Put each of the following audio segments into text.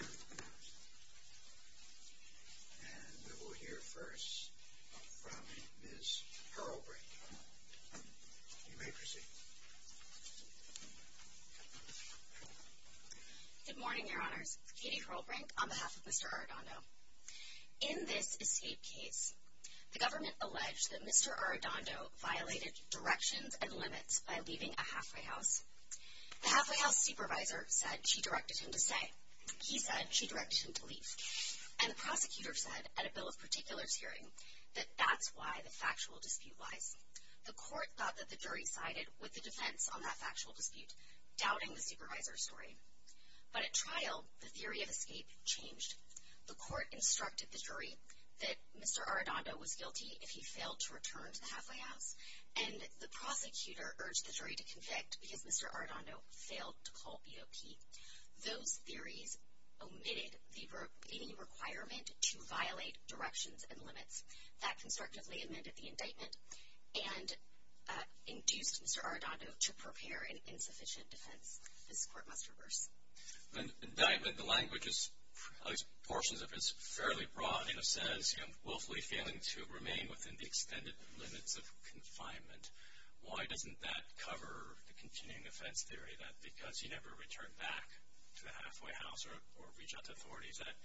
And we will hear first from Ms. Hurlbrink. You may proceed. Good morning, Your Honors. Katie Hurlbrink on behalf of Mr. Arredondo. In this escape case, the government alleged that Mr. Arredondo violated directions and limits by leaving a halfway house. The halfway house supervisor said she directed him to stay. He said she directed him to leave. And the prosecutor said, at a bill of particulars hearing, that that's why the factual dispute lies. The court thought that the jury sided with the defense on that factual dispute, doubting the supervisor's story. But at trial, the theory of escape changed. The court instructed the jury that Mr. Arredondo was guilty if he failed to return to the halfway house. And the prosecutor urged the jury to convict because Mr. Arredondo failed to call BOP. Those theories omitted any requirement to violate directions and limits. That constructively amended the indictment and induced Mr. Arredondo to prepare an insufficient defense. This court must reverse. The indictment, the language is, at least portions of it, is fairly broad. It says, you know, willfully failing to remain within the extended limits of confinement. Why doesn't that cover the continuing offense theory, that because he never returned back to the halfway house or reached out to authorities, that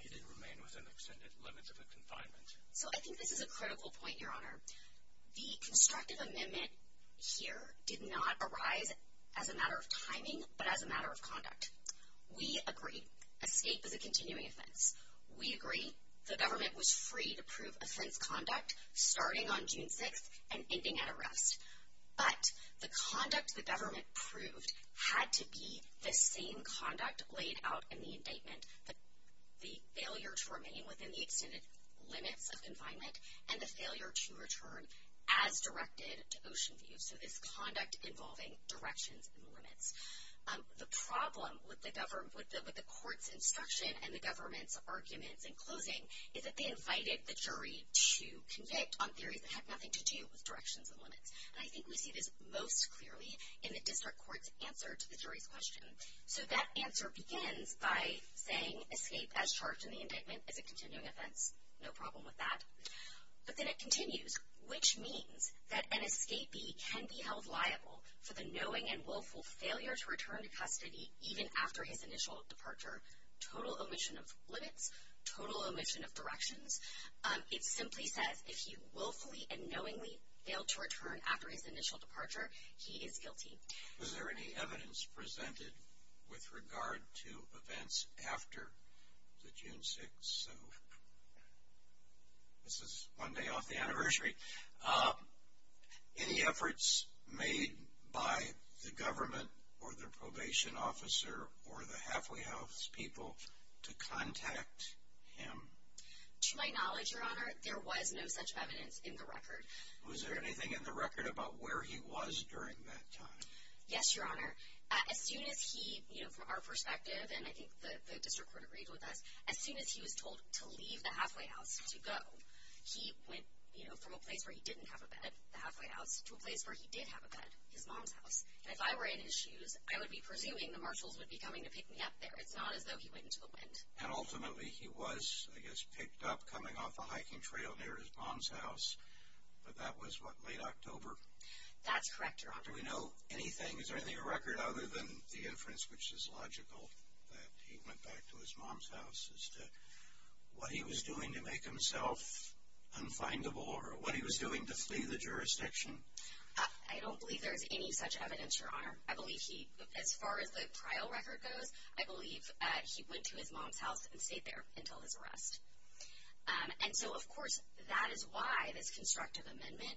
he didn't remain within the extended limits of confinement? So I think this is a critical point, Your Honor. The constructive amendment here did not arise as a matter of timing, but as a matter of conduct. We agree escape is a continuing offense. We agree the government was free to prove offense conduct starting on June 6th and ending at arrest. But the conduct the government proved had to be the same conduct laid out in the indictment, the failure to remain within the extended limits of confinement, and the failure to return as directed to Oceanview. So this conduct involving directions and limits. The problem with the court's instruction and the government's arguments in closing is that they invited the jury to convict on theories that had nothing to do with directions and limits. And I think we see this most clearly in the district court's answer to the jury's question. So that answer begins by saying escape as charged in the indictment is a continuing offense. No problem with that. But then it continues, which means that an escapee can be held liable for the knowing and willful failure to return to custody even after his initial departure. Total omission of limits, total omission of directions. It simply says if he willfully and knowingly failed to return after his initial departure, he is guilty. Was there any evidence presented with regard to events after the June 6th? So this is one day off the anniversary. Any efforts made by the government or the probation officer or the Halfway House people to contact him? To my knowledge, Your Honor, there was no such evidence in the record. Was there anything in the record about where he was during that time? Yes, Your Honor. As soon as he, you know, from our perspective, and I think the district court agreed with us, as soon as he was told to leave the Halfway House to go, he went, you know, from a place where he didn't have a bed, the Halfway House, to a place where he did have a bed, his mom's house. And if I were in his shoes, I would be presuming the marshals would be coming to pick me up there. It's not as though he went into the wind. And ultimately, he was, I guess, picked up coming off a hiking trail near his mom's house. But that was, what, late October? That's correct, Your Honor. Do we know anything? Is there anything in the record other than the inference, which is logical, that he went back to his mom's house, as to what he was doing to make himself unfindable or what he was doing to flee the jurisdiction? I don't believe there's any such evidence, Your Honor. I believe he, as far as the trial record goes, I believe he went to his mom's house and stayed there until his arrest. And so, of course, that is why this constructive amendment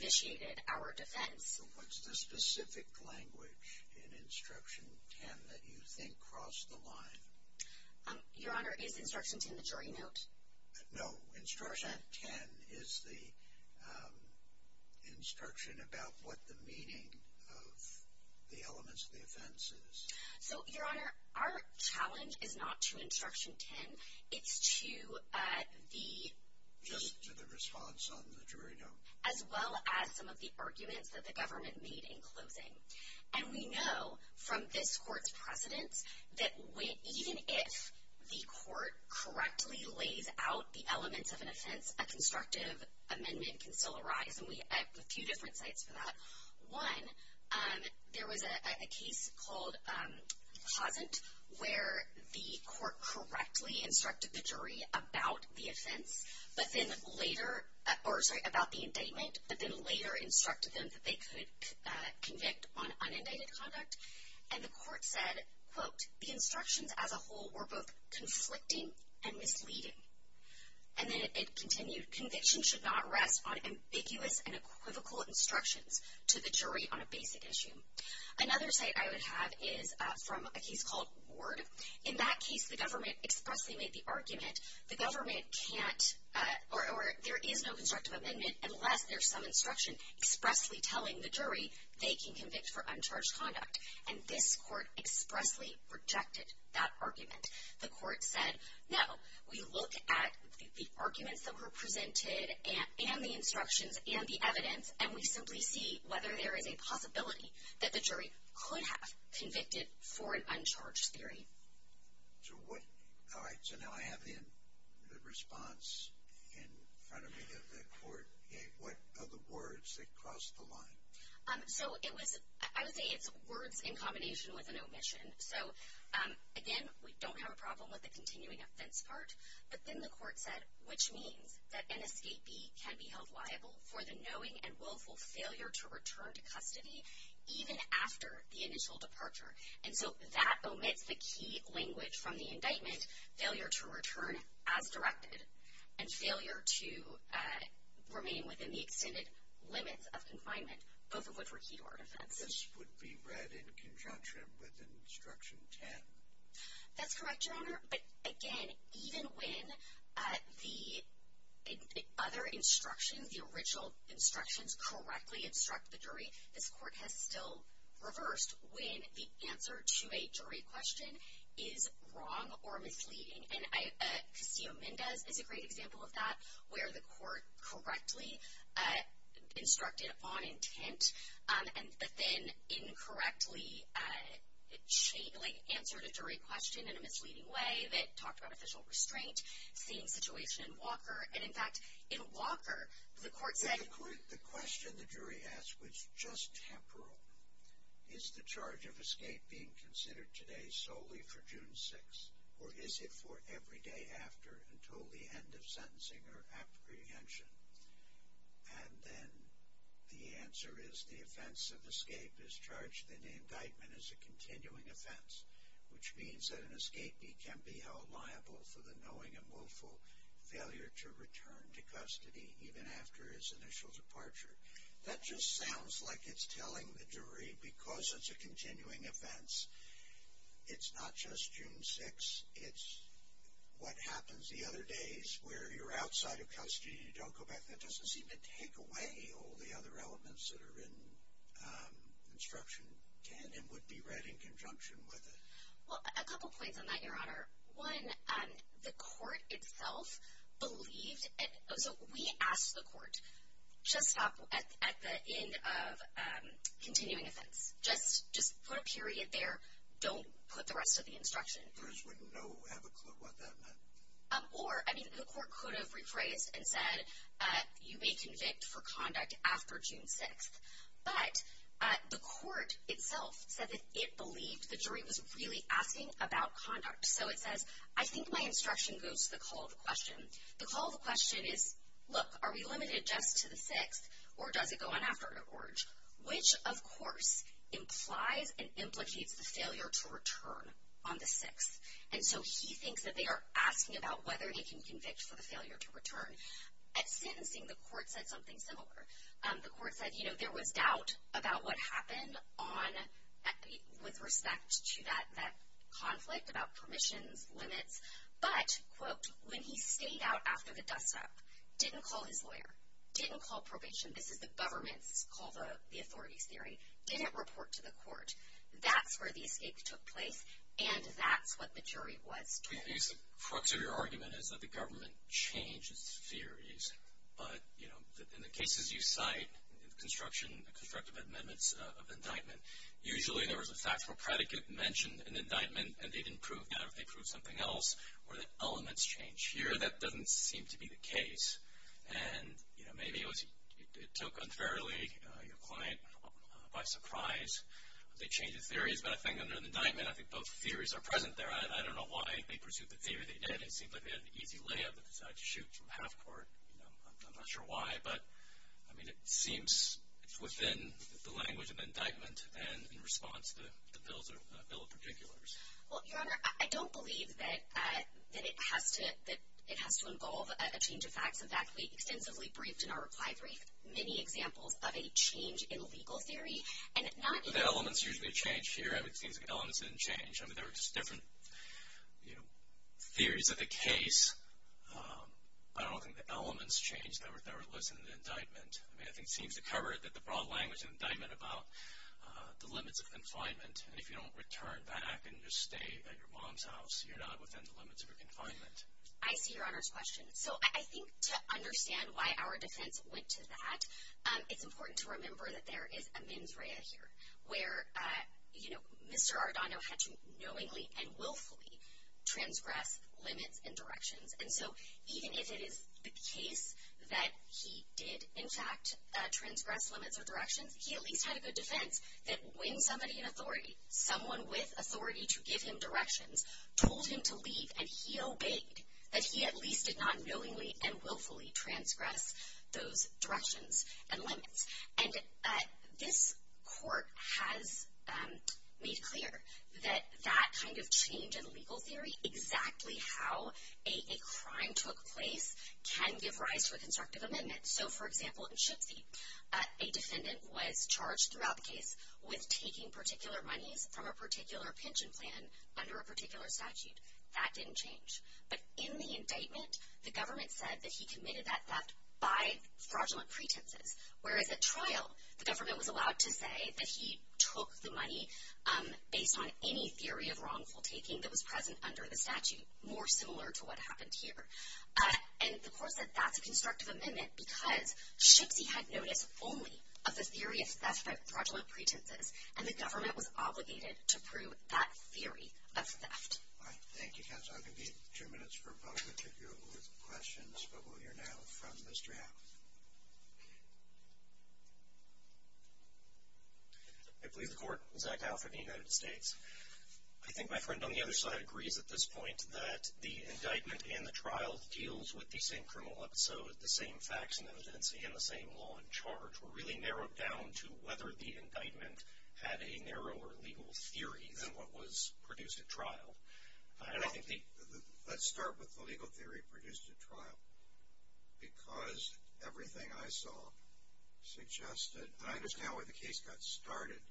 vitiated our defense. What's the specific language in Instruction 10 that you think crossed the line? Your Honor, is Instruction 10 the jury note? No, Instruction 10 is the instruction about what the meaning of the elements of the offense is. So, Your Honor, our challenge is not to Instruction 10. It's to the- Just to the response on the jury note. As well as some of the arguments that the government made in closing. And we know, from this court's precedence, that even if the court correctly lays out the elements of an offense, a constructive amendment can still arise. And we have a few different sites for that. One, there was a case called Hosent, where the court correctly instructed the jury about the offense, about the indictment, but then later instructed them that they could convict on unindicted conduct. And the court said, quote, the instructions as a whole were both conflicting and misleading. And then it continued, conviction should not rest on ambiguous and equivocal instructions to the jury on a basic issue. Another site I would have is from a case called Ward. In that case, the government expressly made the argument, the government can't- or there is no constructive amendment unless there's some instruction expressly telling the jury they can convict for uncharged conduct. And this court expressly rejected that argument. The court said, no, we look at the arguments that were presented and the instructions and the evidence, and we simply see whether there is a possibility that the jury could have convicted for an uncharged theory. So what- all right, so now I have the response in front of me that the court gave. What are the words that crossed the line? So it was- I would say it's words in combination with an omission. So, again, we don't have a problem with the continuing offense part. But then the court said, which means that an escapee can be held liable for the knowing and willful failure to return to custody even after the initial departure. And so that omits the key language from the indictment, failure to return as directed, and failure to remain within the extended limits of confinement, both of which were key to our defense. This would be read in conjunction with Instruction 10. That's correct, Your Honor. But, again, even when the other instructions, the original instructions, correctly instruct the jury, this court has still reversed when the answer to a jury question is wrong or misleading. And Castillo-Mendez is a great example of that, where the court correctly instructed on intent but then incorrectly answered a jury question in a misleading way. It talked about official restraint, same situation in Walker. And, in fact, in Walker, the court said- The question the jury asked was just temporal. Is the charge of escape being considered today solely for June 6th, or is it for every day after until the end of sentencing or apprehension? And then the answer is the offense of escape is charged in the indictment as a continuing offense, which means that an escapee can be held liable for the knowing and willful failure to return to custody even after his initial departure. That just sounds like it's telling the jury, because it's a continuing offense, it's not just June 6th, it's what happens the other days, where you're outside of custody, you don't go back. That doesn't seem to take away all the other elements that are in instruction, and would be read in conjunction with it. Well, a couple points on that, Your Honor. One, the court itself believed- So we asked the court, just stop at the end of continuing offense. Just put a period there. Don't put the rest of the instruction. Jurors wouldn't know, have a clue what that meant. Or, I mean, the court could have rephrased and said, you may convict for conduct after June 6th. But the court itself said that it believed the jury was really asking about conduct. So it says, I think my instruction goes to the call of the question. The call of the question is, look, are we limited just to the 6th, or does it go on after an organ? Which, of course, implies and implicates the failure to return on the 6th. And so he thinks that they are asking about whether they can convict for the failure to return. At sentencing, the court said something similar. The court said, you know, there was doubt about what happened with respect to that conflict, about permissions, limits. But, quote, when he stayed out after the dust-up, didn't call his lawyer, didn't call probation- this is the government's, called the authorities' theory- didn't report to the court, that's where the escape took place, and that's what the jury was told. I think the crux of your argument is that the government changes theories. But, you know, in the cases you cite, the construction, the constructive amendments of indictment, usually there was a factual predicate mentioned in indictment, and they didn't prove that if they proved something else, or that elements change. Here, that doesn't seem to be the case. And, you know, maybe it was, it took unfairly your client by surprise. They changed the theories, but I think under the indictment, I think both theories are present there. I don't know why they pursued the theory they did. It seemed like they had an easy layup and decided to shoot from half-court. You know, I'm not sure why, but, I mean, it seems within the language of the indictment and in response to the bill of particulars. Well, Your Honor, I don't believe that it has to involve a change of facts. In fact, we extensively briefed in our reply brief many examples of a change in legal theory, and not even The elements usually change here. It seems like elements didn't change. I mean, there were just different, you know, theories of the case. I don't think the elements changed that were listed in the indictment. I mean, I think it seems to cover the broad language of indictment about the limits of confinement. And if you don't return back and just stay at your mom's house, you're not within the limits of your confinement. I see Your Honor's question. So I think to understand why our defense went to that, it's important to remember that there is a mens rea here, where, you know, Mr. Ardano had to knowingly and willfully transgress limits and directions. And so even if it is the case that he did, in fact, transgress limits or directions, he at least had a good defense that when somebody in authority, someone with authority to give him directions, told him to leave, and he obeyed, that he at least did not knowingly and willfully transgress those directions and limits. And this court has made clear that that kind of change in legal theory, exactly how a crime took place, can give rise to a constructive amendment. So, for example, in Shipsey, a defendant was charged throughout the case with taking particular monies from a particular pension plan under a particular statute. That didn't change. But in the indictment, the government said that he committed that theft by fraudulent pretenses. Whereas at trial, the government was allowed to say that he took the money based on any theory of wrongful taking that was present under the statute, more similar to what happened here. And the court said that's a constructive amendment because Shipsey had notice only of the theory of theft by fraudulent pretenses, and the government was obligated to prove that theory of theft. All right. Thank you, counsel. I'm going to give you two minutes for public to go with questions. But we'll hear now from Mr. Howell. I plead the court, Zach Howell for the United States. I think my friend on the other side agrees at this point that the indictment and the trial deals with the same criminal episode, the same facts and evidence, and the same law in charge. Which were really narrowed down to whether the indictment had a narrower legal theory than what was produced at trial. Let's start with the legal theory produced at trial. Because everything I saw suggested, and I understand where the case got started,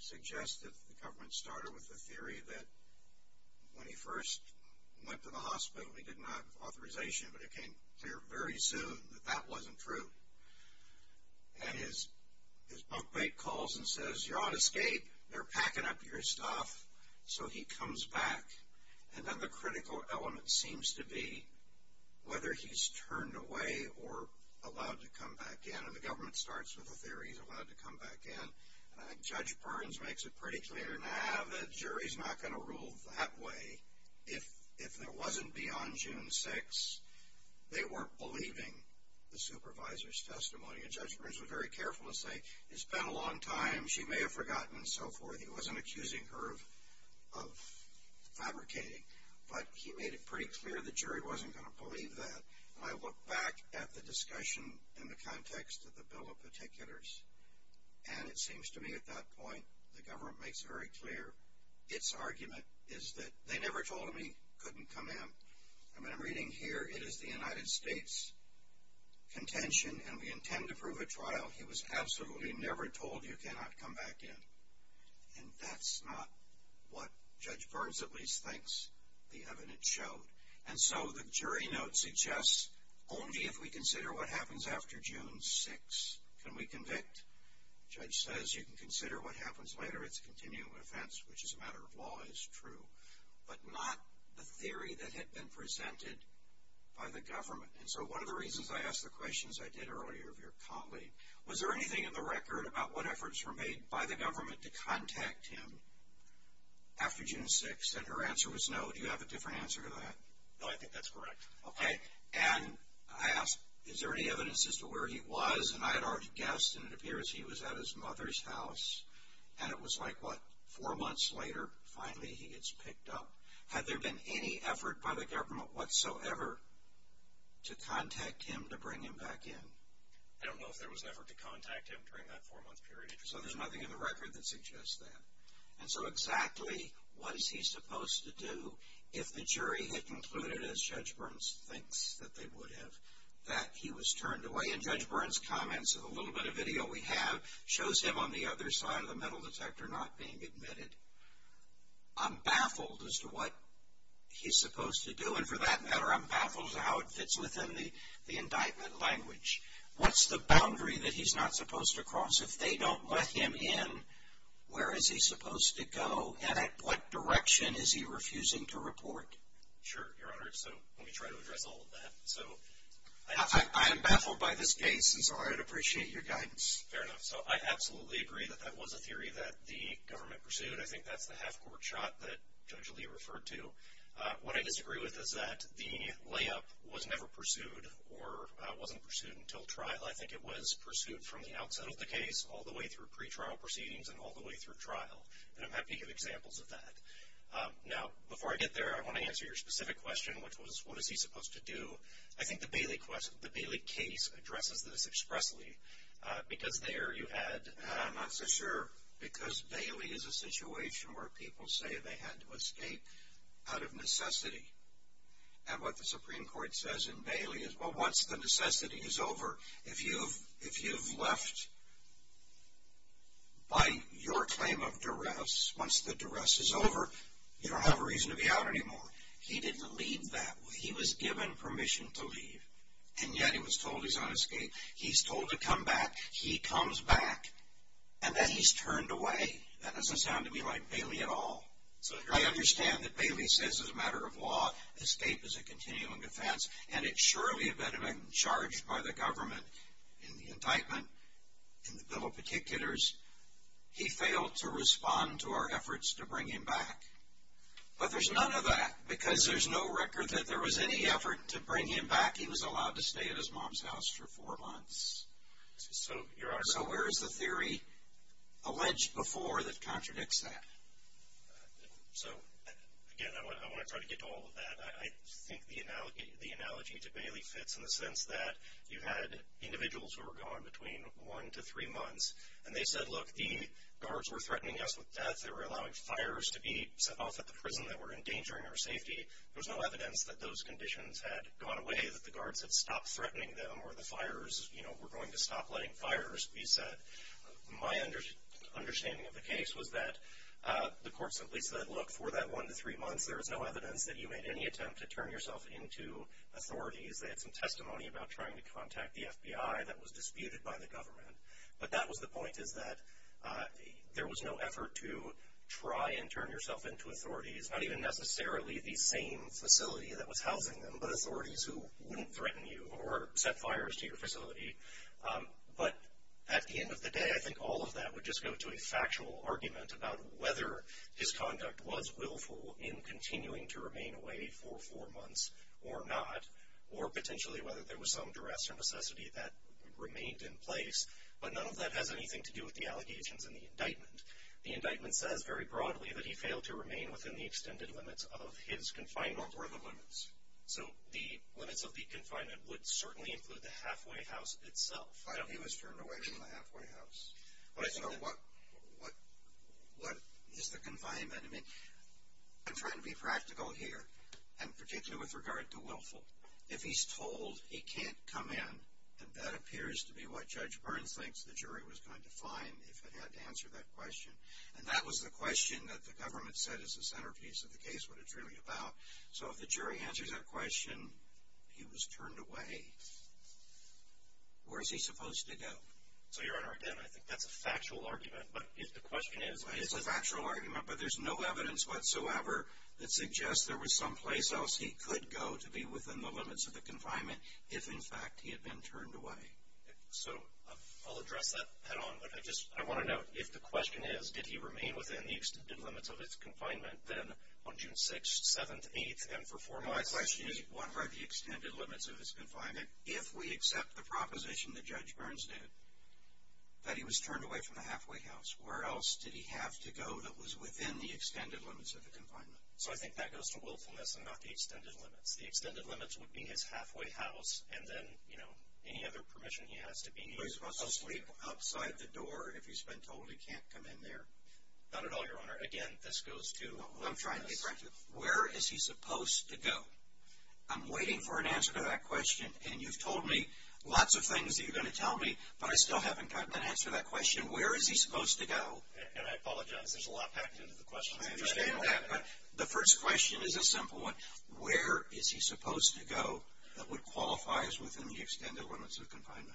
suggests that the government started with the theory that when he first went to the hospital, he did not have authorization. But it became clear very soon that that wasn't true. And his bunkmate calls and says, you're on escape. They're packing up your stuff. So he comes back. And then the critical element seems to be whether he's turned away or allowed to come back in. And the government starts with the theory he's allowed to come back in. And I think Judge Barnes makes it pretty clear now that a jury's not going to rule that way if there wasn't beyond June 6th. They weren't believing the supervisor's testimony. And Judge Barnes was very careful to say, it's been a long time. She may have forgotten and so forth. He wasn't accusing her of fabricating. But he made it pretty clear the jury wasn't going to believe that. And I look back at the discussion in the context of the bill of particulars, and it seems to me at that point the government makes it very clear. Its argument is that they never told him he couldn't come in. And when I'm reading here, it is the United States contention, and we intend to prove a trial. He was absolutely never told you cannot come back in. And that's not what Judge Barnes at least thinks the evidence showed. And so the jury note suggests only if we consider what happens after June 6th can we convict. The judge says you can consider what happens later. It's a continuum offense, which as a matter of law is true, but not the theory that had been presented by the government. And so one of the reasons I asked the questions I did earlier of your colleague, was there anything in the record about what efforts were made by the government to contact him after June 6th? And her answer was no. Do you have a different answer to that? No, I think that's correct. Okay. And I asked, is there any evidence as to where he was? And I had already guessed, and it appears he was at his mother's house. And it was like what, four months later, finally he gets picked up. Had there been any effort by the government whatsoever to contact him to bring him back in? I don't know if there was an effort to contact him during that four-month period. So there's nothing in the record that suggests that. And so exactly what is he supposed to do if the jury had concluded, as Judge Burns thinks that they would have, that he was turned away? And Judge Burns' comments of the little bit of video we have shows him on the other side of the metal detector not being admitted. I'm baffled as to what he's supposed to do. And for that matter, I'm baffled as to how it fits within the indictment language. What's the boundary that he's not supposed to cross if they don't let him in? Where is he supposed to go? And at what direction is he refusing to report? Sure, Your Honor. So let me try to address all of that. So I am baffled by this case, and so I would appreciate your guidance. Fair enough. So I absolutely agree that that was a theory that the government pursued. I think that's the half-court shot that Judge Lee referred to. What I disagree with is that the layup was never pursued or wasn't pursued until trial. I think it was pursued from the outset of the case, all the way through pretrial proceedings and all the way through trial. And I'm happy to give examples of that. Now, before I get there, I want to answer your specific question, which was what is he supposed to do. I think the Bailey case addresses this expressly because there you had... I'm not so sure because Bailey is a situation where people say they had to escape out of necessity. And what the Supreme Court says in Bailey is, well, once the necessity is over, if you've left by your claim of duress, once the duress is over, you don't have a reason to be out anymore. He didn't leave that way. He was given permission to leave, and yet he was told he's on escape. He's told to come back. He comes back, and then he's turned away. That doesn't sound to me like Bailey at all. I understand that Bailey says as a matter of law, escape is a continuing defense, and it surely had been charged by the government in the indictment, in the bill of particulars. He failed to respond to our efforts to bring him back. But there's none of that because there's no record that there was any effort to bring him back. He was allowed to stay at his mom's house for four months. So where is the theory alleged before that contradicts that? So, again, I want to try to get to all of that. I think the analogy to Bailey fits in the sense that you had individuals who were gone between one to three months, and they said, look, the guards were threatening us with death. They were allowing fires to be set off at the prison that were endangering our safety. There was no evidence that those conditions had gone away, that the guards had stopped threatening them or the fires were going to stop letting fires be set. My understanding of the case was that the court simply said, look, for that one to three months, there was no evidence that you made any attempt to turn yourself into authorities. They had some testimony about trying to contact the FBI that was disputed by the government. But that was the point is that there was no effort to try and turn yourself into authorities, not even necessarily the same facility that was housing them, but authorities who wouldn't threaten you or set fires to your facility. But at the end of the day, I think all of that would just go to a factual argument about whether his conduct was willful in continuing to remain away for four months or not, or potentially whether there was some duress or necessity that remained in place. But none of that has anything to do with the allegations in the indictment. The indictment says very broadly that he failed to remain within the extended limits of his confinement. What were the limits? So the limits of the confinement would certainly include the halfway house itself. But he was turned away from the halfway house. So what is the confinement? I mean, I'm trying to be practical here, and particularly with regard to willful. If he's told he can't come in, and that appears to be what Judge Burns thinks the jury was going to find if it had to answer that question. And that was the question that the government said is the centerpiece of the case, what it's really about. So if the jury answers that question, he was turned away, where is he supposed to go? So, Your Honor, again, I think that's a factual argument. But if the question is… It's a factual argument, but there's no evidence whatsoever that suggests there was someplace else he could go to be within the limits of the confinement if, in fact, he had been turned away. So I'll address that head on. But I just want to note, if the question is did he remain within the extended limits of his confinement, then on June 6th, 7th, 8th, and for four months… that he was turned away from the halfway house, where else did he have to go that was within the extended limits of the confinement? So I think that goes to willfulness and not the extended limits. The extended limits would be his halfway house, and then, you know, any other permission he has to be… So he's supposed to sleep outside the door if he's been told he can't come in there? Not at all, Your Honor. Again, this goes to… I'm trying to be practical. Where is he supposed to go? I'm waiting for an answer to that question, and you've told me lots of things that you're going to tell me, but I still haven't gotten an answer to that question. Where is he supposed to go? And I apologize. There's a lot packed into the question. I understand that. But the first question is a simple one. Where is he supposed to go that would qualify as within the extended limits of confinement?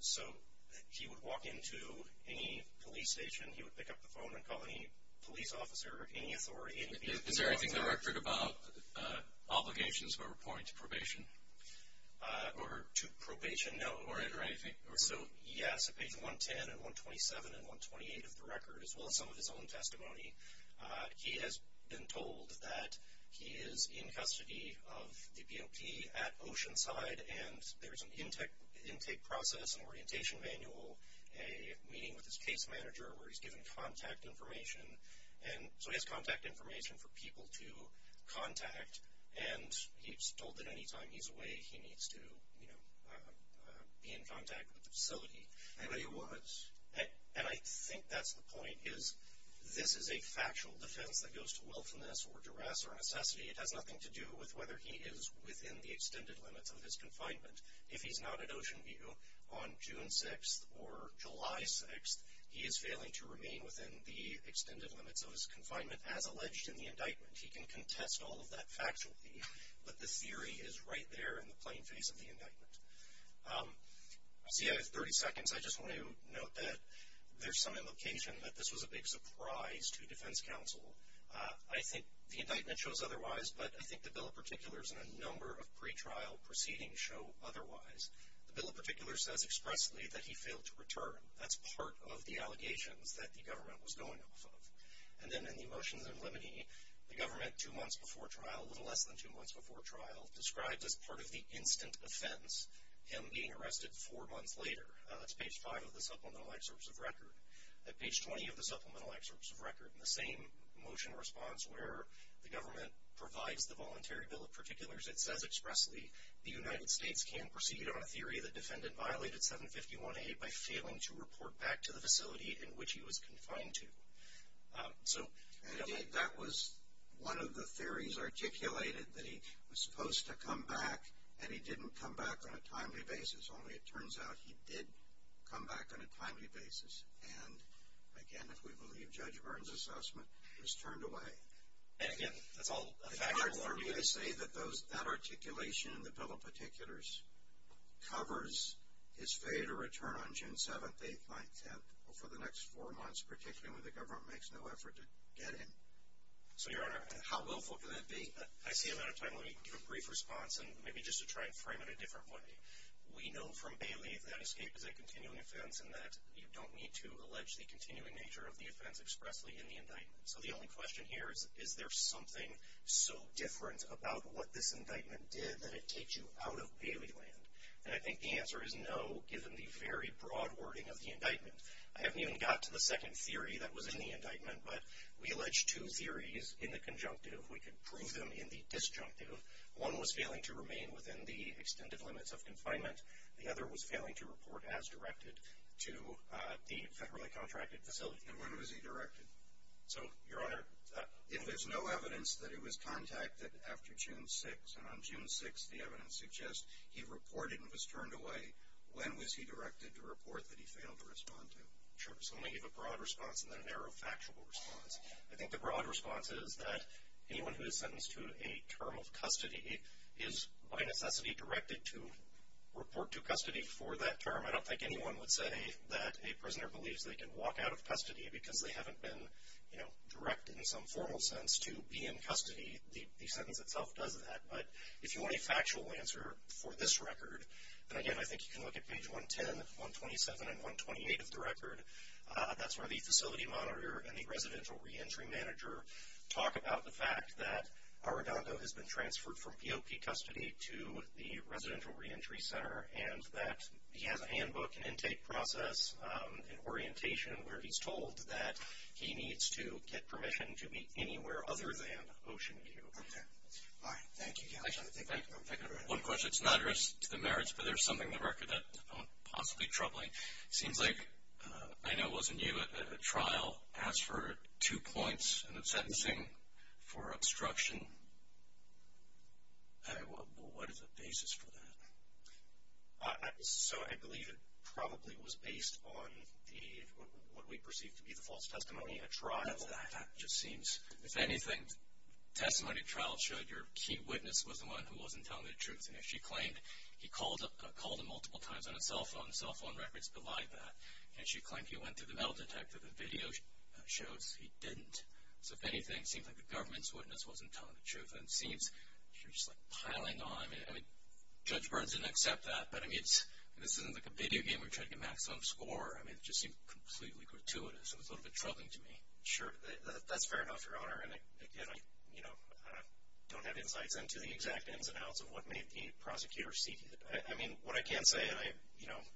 So he would walk into any police station. He would pick up the phone and call any police officer of any authority. Is there anything that I've heard about obligations where we're pouring into probation? Or to probation? No. Or anything? So, yes, at page 110 and 127 and 128 of the record, as well as some of his own testimony, he has been told that he is in custody of the BOP at Oceanside, and there's an intake process and orientation manual, a meeting with his case manager where he's given contact information. And so he has contact information for people to contact, and he's told that any time he's away he needs to be in contact with the facility. And I think that's the point, is this is a factual defense that goes to willfulness or duress or necessity. It has nothing to do with whether he is within the extended limits of his confinement. If he's not at Oceanview on June 6th or July 6th, he is failing to remain within the extended limits of his confinement, as alleged in the indictment. He can contest all of that factually, but the theory is right there in the plain face of the indictment. See, I have 30 seconds. I just want to note that there's some implication that this was a big surprise to defense counsel. I think the indictment shows otherwise, but I think the bill in particular and a number of pretrial proceedings show otherwise. The bill in particular says expressly that he failed to return. That's part of the allegations that the government was going off of. And then in the motions in limine, the government two months before trial, a little less than two months before trial, described as part of the instant offense him being arrested four months later. That's page five of the supplemental excerpts of record. At page 20 of the supplemental excerpts of record, in the same motion response where the government provides the voluntary bill of particulars, it says expressly the United States can proceed on a theory that defendant violated 751A by failing to report back to the facility in which he was confined to. And that was one of the theories articulated that he was supposed to come back, and he didn't come back on a timely basis. Only it turns out he did come back on a timely basis. And, again, if we believe Judge Byrne's assessment, he was turned away. And, again, that's all a factual argument. Would I say that that articulation in the bill of particulars covers his failure to return on June 7th, 8th, 9th, 10th for the next four months, particularly when the government makes no effort to get him? So, Your Honor, how willful can that be? I see I'm out of time. Let me give a brief response, and maybe just to try and frame it a different way. We know from Bailey that escape is a continuing offense and that you don't need to allege the continuing nature of the offense expressly in the indictment. So the only question here is, is there something so different about what this indictment did that it takes you out of Bailey land? And I think the answer is no, given the very broad wording of the indictment. I haven't even got to the second theory that was in the indictment, but we allege two theories in the conjunctive. We can prove them in the disjunctive. One was failing to remain within the extended limits of confinement. The other was failing to report as directed to the federally contracted facility. And when was he directed? So, Your Honor, if there's no evidence that he was contacted after June 6th, and on June 6th the evidence suggests he reported and was turned away, when was he directed to report that he failed to respond to? Sure. So let me give a broad response and then a narrow factual response. I think the broad response is that anyone who is sentenced to a term of custody is by necessity directed to report to custody for that term. I don't think anyone would say that a prisoner believes they can walk out of custody because they haven't been directed in some formal sense to be in custody. The sentence itself does that. But if you want a factual answer for this record, and again I think you can look at page 110, 127, and 128 of the record, that's where the facility monitor and the residential reentry manager talk about the fact that Arredondo has been transferred from POP custody to the residential reentry center and that he has a handbook, an intake process, an orientation where he's told that he needs to get permission to be anywhere other than Ocean View. Okay. All right. Thank you, Your Honor. One question. It's an address to the merits, but there's something in the record that I found possibly troubling. It seems like I know it wasn't you, but a trial asked for two points in the sentencing for obstruction. What is the basis for that? So I believe it probably was based on what we perceive to be the false testimony in a trial. That just seems. If anything, testimony trials showed your key witness was the one who wasn't telling the truth. And if she claimed he called him multiple times on his cell phone, the cell phone records belie that. And she claimed he went to the metal detector. The video shows he didn't. So, if anything, it seems like the government's witness wasn't telling the truth. And it seems you're just, like, piling on. I mean, Judge Burns didn't accept that. But, I mean, this isn't like a video game where you're trying to get maximum score. I mean, it just seemed completely gratuitous. It was a little bit troubling to me. Sure. That's fair enough, Your Honor. And, again, I don't have insights into the exact ins and outs of what made the prosecutor seek it. I mean, what I can say, and I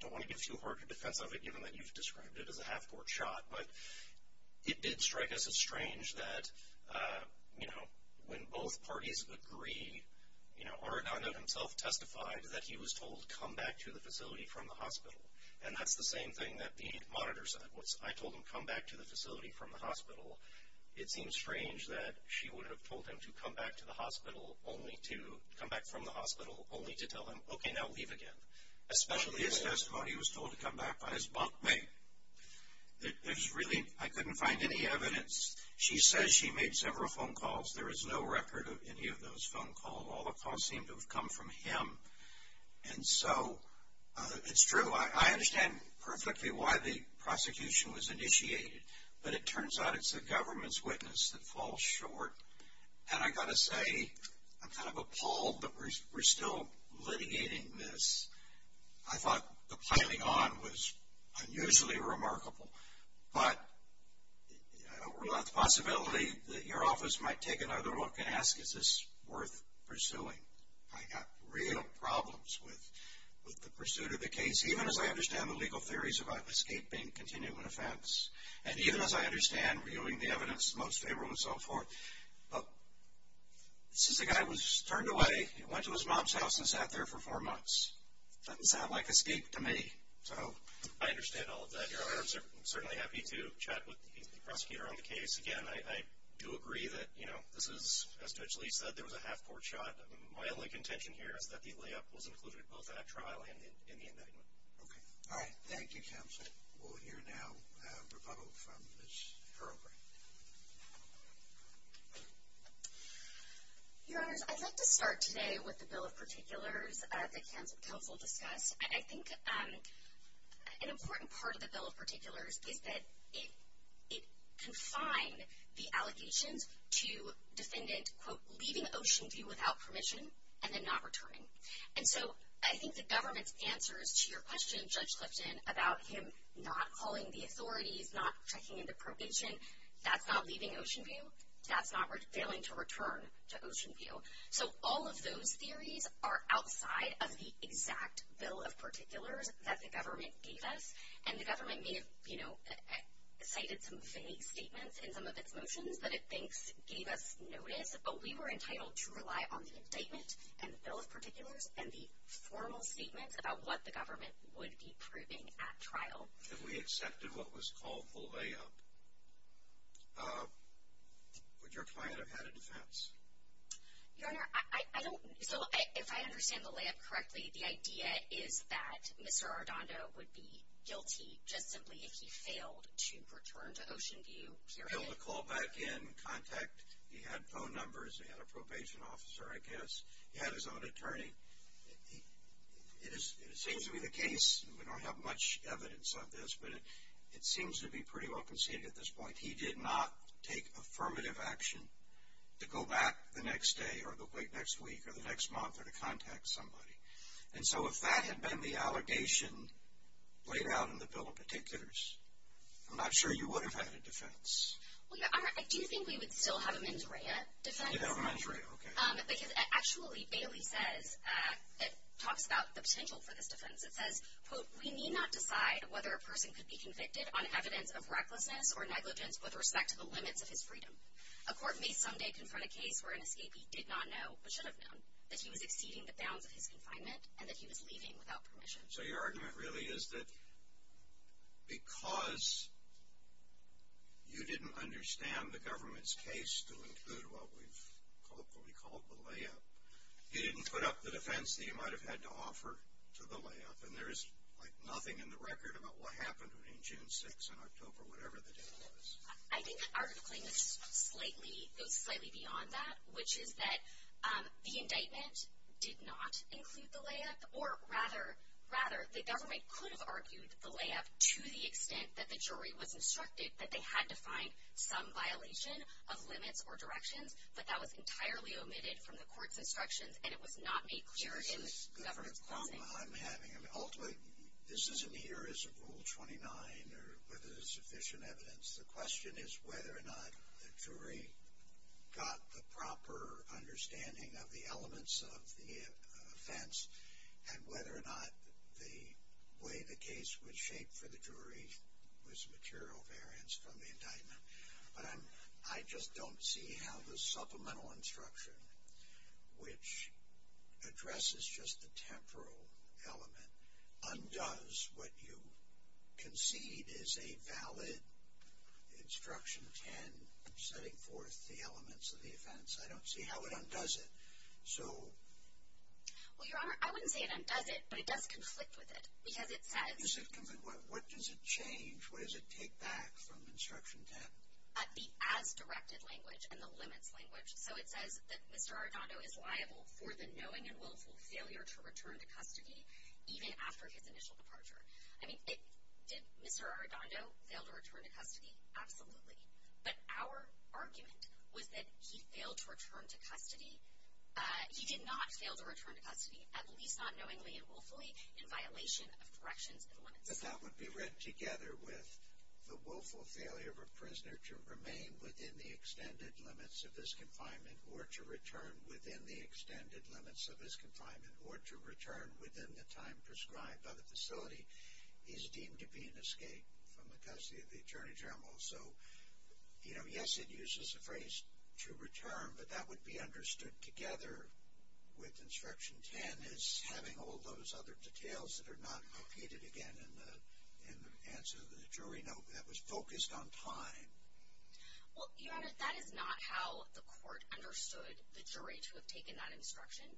don't want to give too hard a defense of it, given that you've described it as a half-court shot, but it did strike us as strange that, you know, when both parties agree, you know, Arradondo himself testified that he was told to come back to the facility from the hospital. And that's the same thing that the monitor said, was, I told him to come back to the facility from the hospital. It seems strange that she would have told him to come back to the hospital, only to come back from the hospital, only to tell him, okay, now leave again. Especially his testimony. He was told to come back by his bunkmate. There's really, I couldn't find any evidence. She says she made several phone calls. There is no record of any of those phone calls. All the calls seem to have come from him. And so it's true. I understand perfectly why the prosecution was initiated, but it turns out it's the government's witness that falls short. And I've got to say, I'm kind of appalled that we're still litigating this. I thought the piling on was unusually remarkable. But I don't rule out the possibility that your office might take another look and ask, is this worth pursuing? I've got real problems with the pursuit of the case, even as I understand the legal theories about escape being a continuing offense, and even as I understand reviewing the evidence, most favorable and so forth. But since the guy was turned away, went to his mom's house and sat there for four months, doesn't sound like escape to me. I understand all of that. I'm certainly happy to chat with the prosecutor on the case. Again, I do agree that this is, as Judge Lee said, there was a half-court shot. My only contention here is that the layup was included both at trial and in the indictment. All right. Thank you, Counselor. We'll hear now a rebuttal from Ms. Farrelly. Your Honors, I'd like to start today with the Bill of Particulars that counsel discussed. I think an important part of the Bill of Particulars is that it confined the allegations to defendant, quote, leaving Ocean View without permission and then not returning. And so I think the government's answers to your question, Judge Clifton, about him not calling the authorities, not checking into probation, that's not leaving Ocean View. That's not failing to return to Ocean View. So all of those theories are outside of the exact Bill of Particulars that the government gave us. And the government may have, you know, cited some vague statements in some of its motions that it thinks gave us notice, but we were entitled to rely on the indictment and the Bill of Particulars and the formal statements about what the government would be proving at trial. And we accepted what was called the layup. Would your client have had a defense? Your Honor, I don't know. So if I understand the layup correctly, the idea is that Mr. Ardando would be guilty just simply if he failed to return to Ocean View, period. Failed to call back in, contact. He had phone numbers. He had a probation officer, I guess. He had his own attorney. It seems to be the case, and we don't have much evidence of this, but it seems to be pretty well conceded at this point. He did not take affirmative action to go back the next day or the week next week or the next month or to contact somebody. And so if that had been the allegation laid out in the Bill of Particulars, I'm not sure you would have had a defense. Well, Your Honor, I do think we would still have a mens rea defense. You'd have a mens rea, okay. Because actually, Bailey says, talks about the potential for this defense. It says, quote, We need not decide whether a person could be convicted on evidence of recklessness or negligence with respect to the limits of his freedom. A court may someday confront a case where an escapee did not know, but should have known, that he was exceeding the bounds of his confinement and that he was leaving without permission. So your argument really is that because you didn't understand the government's case to include what we've hopefully called the layup, you didn't put up the defense that you might have had to offer to the layup, and there is, like, nothing in the record about what happened between June 6 and October, whatever the date was. I think our claim goes slightly beyond that, which is that the indictment did not include the layup, or rather the government could have argued the layup to the extent that the jury was instructed that they had to find some violation of limits or directions, but that was entirely omitted from the court's instructions, and it was not made clear in the government's closing. So this is a different problem I'm having. I mean, ultimately, this isn't here as a Rule 29 or whether there's sufficient evidence. The question is whether or not the jury got the proper understanding of the elements of the offense and whether or not the way the case was shaped for the jury was material variance from the indictment. But I just don't see how the supplemental instruction, which addresses just the temporal element, undoes what you concede is a valid Instruction 10 setting forth the elements of the offense. I don't see how it undoes it. So... Well, Your Honor, I wouldn't say it undoes it, but it does conflict with it because it says... What does it change? What does it take back from Instruction 10? The as-directed language and the limits language. So it says that Mr. Arradondo is liable for the knowing and willful failure to return to custody even after his initial departure. I mean, did Mr. Arradondo fail to return to custody? Absolutely. But our argument was that he failed to return to custody. He did not fail to return to custody, at least not knowingly and willfully, in violation of corrections and limits. But that would be read together with the willful failure of a prisoner to remain within the extended limits of his confinement or to return within the extended limits of his confinement or to return within the time prescribed by the facility is deemed to be an escape from the custody of the Attorney General. So, you know, yes, it uses the phrase to return, but that would be understood together with Instruction 10 as having all those other details that are not located, again, in the answer to the jury note that was focused on time. Well, Your Honor, that is not how the court understood the jury to have taken that instruction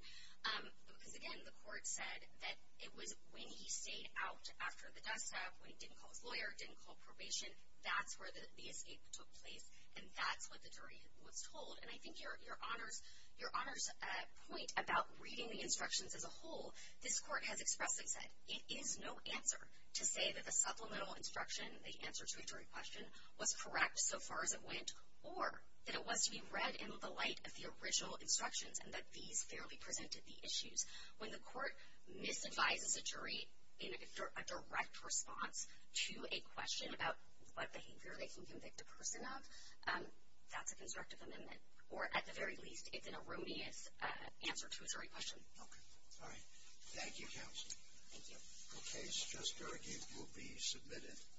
because, again, the court said that it was when he stayed out after the desktop, when he didn't call his lawyer, didn't call probation, that's where the escape took place, and that's what the jury was told. And I think Your Honor's point about reading the instructions as a whole, this court has expressly said it is no answer to say that the supplemental instruction, the answer to a jury question, was correct so far as it went or that it was to be read in the light of the original instructions and that these fairly presented the issues. When the court misadvises a jury in a direct response to a question about what behavior they can convict a person of, that's a constructive amendment or, at the very least, it's an erroneous answer to a jury question. Okay. All right. Thank you, Counsel. Thank you. The case just argued will be submitted.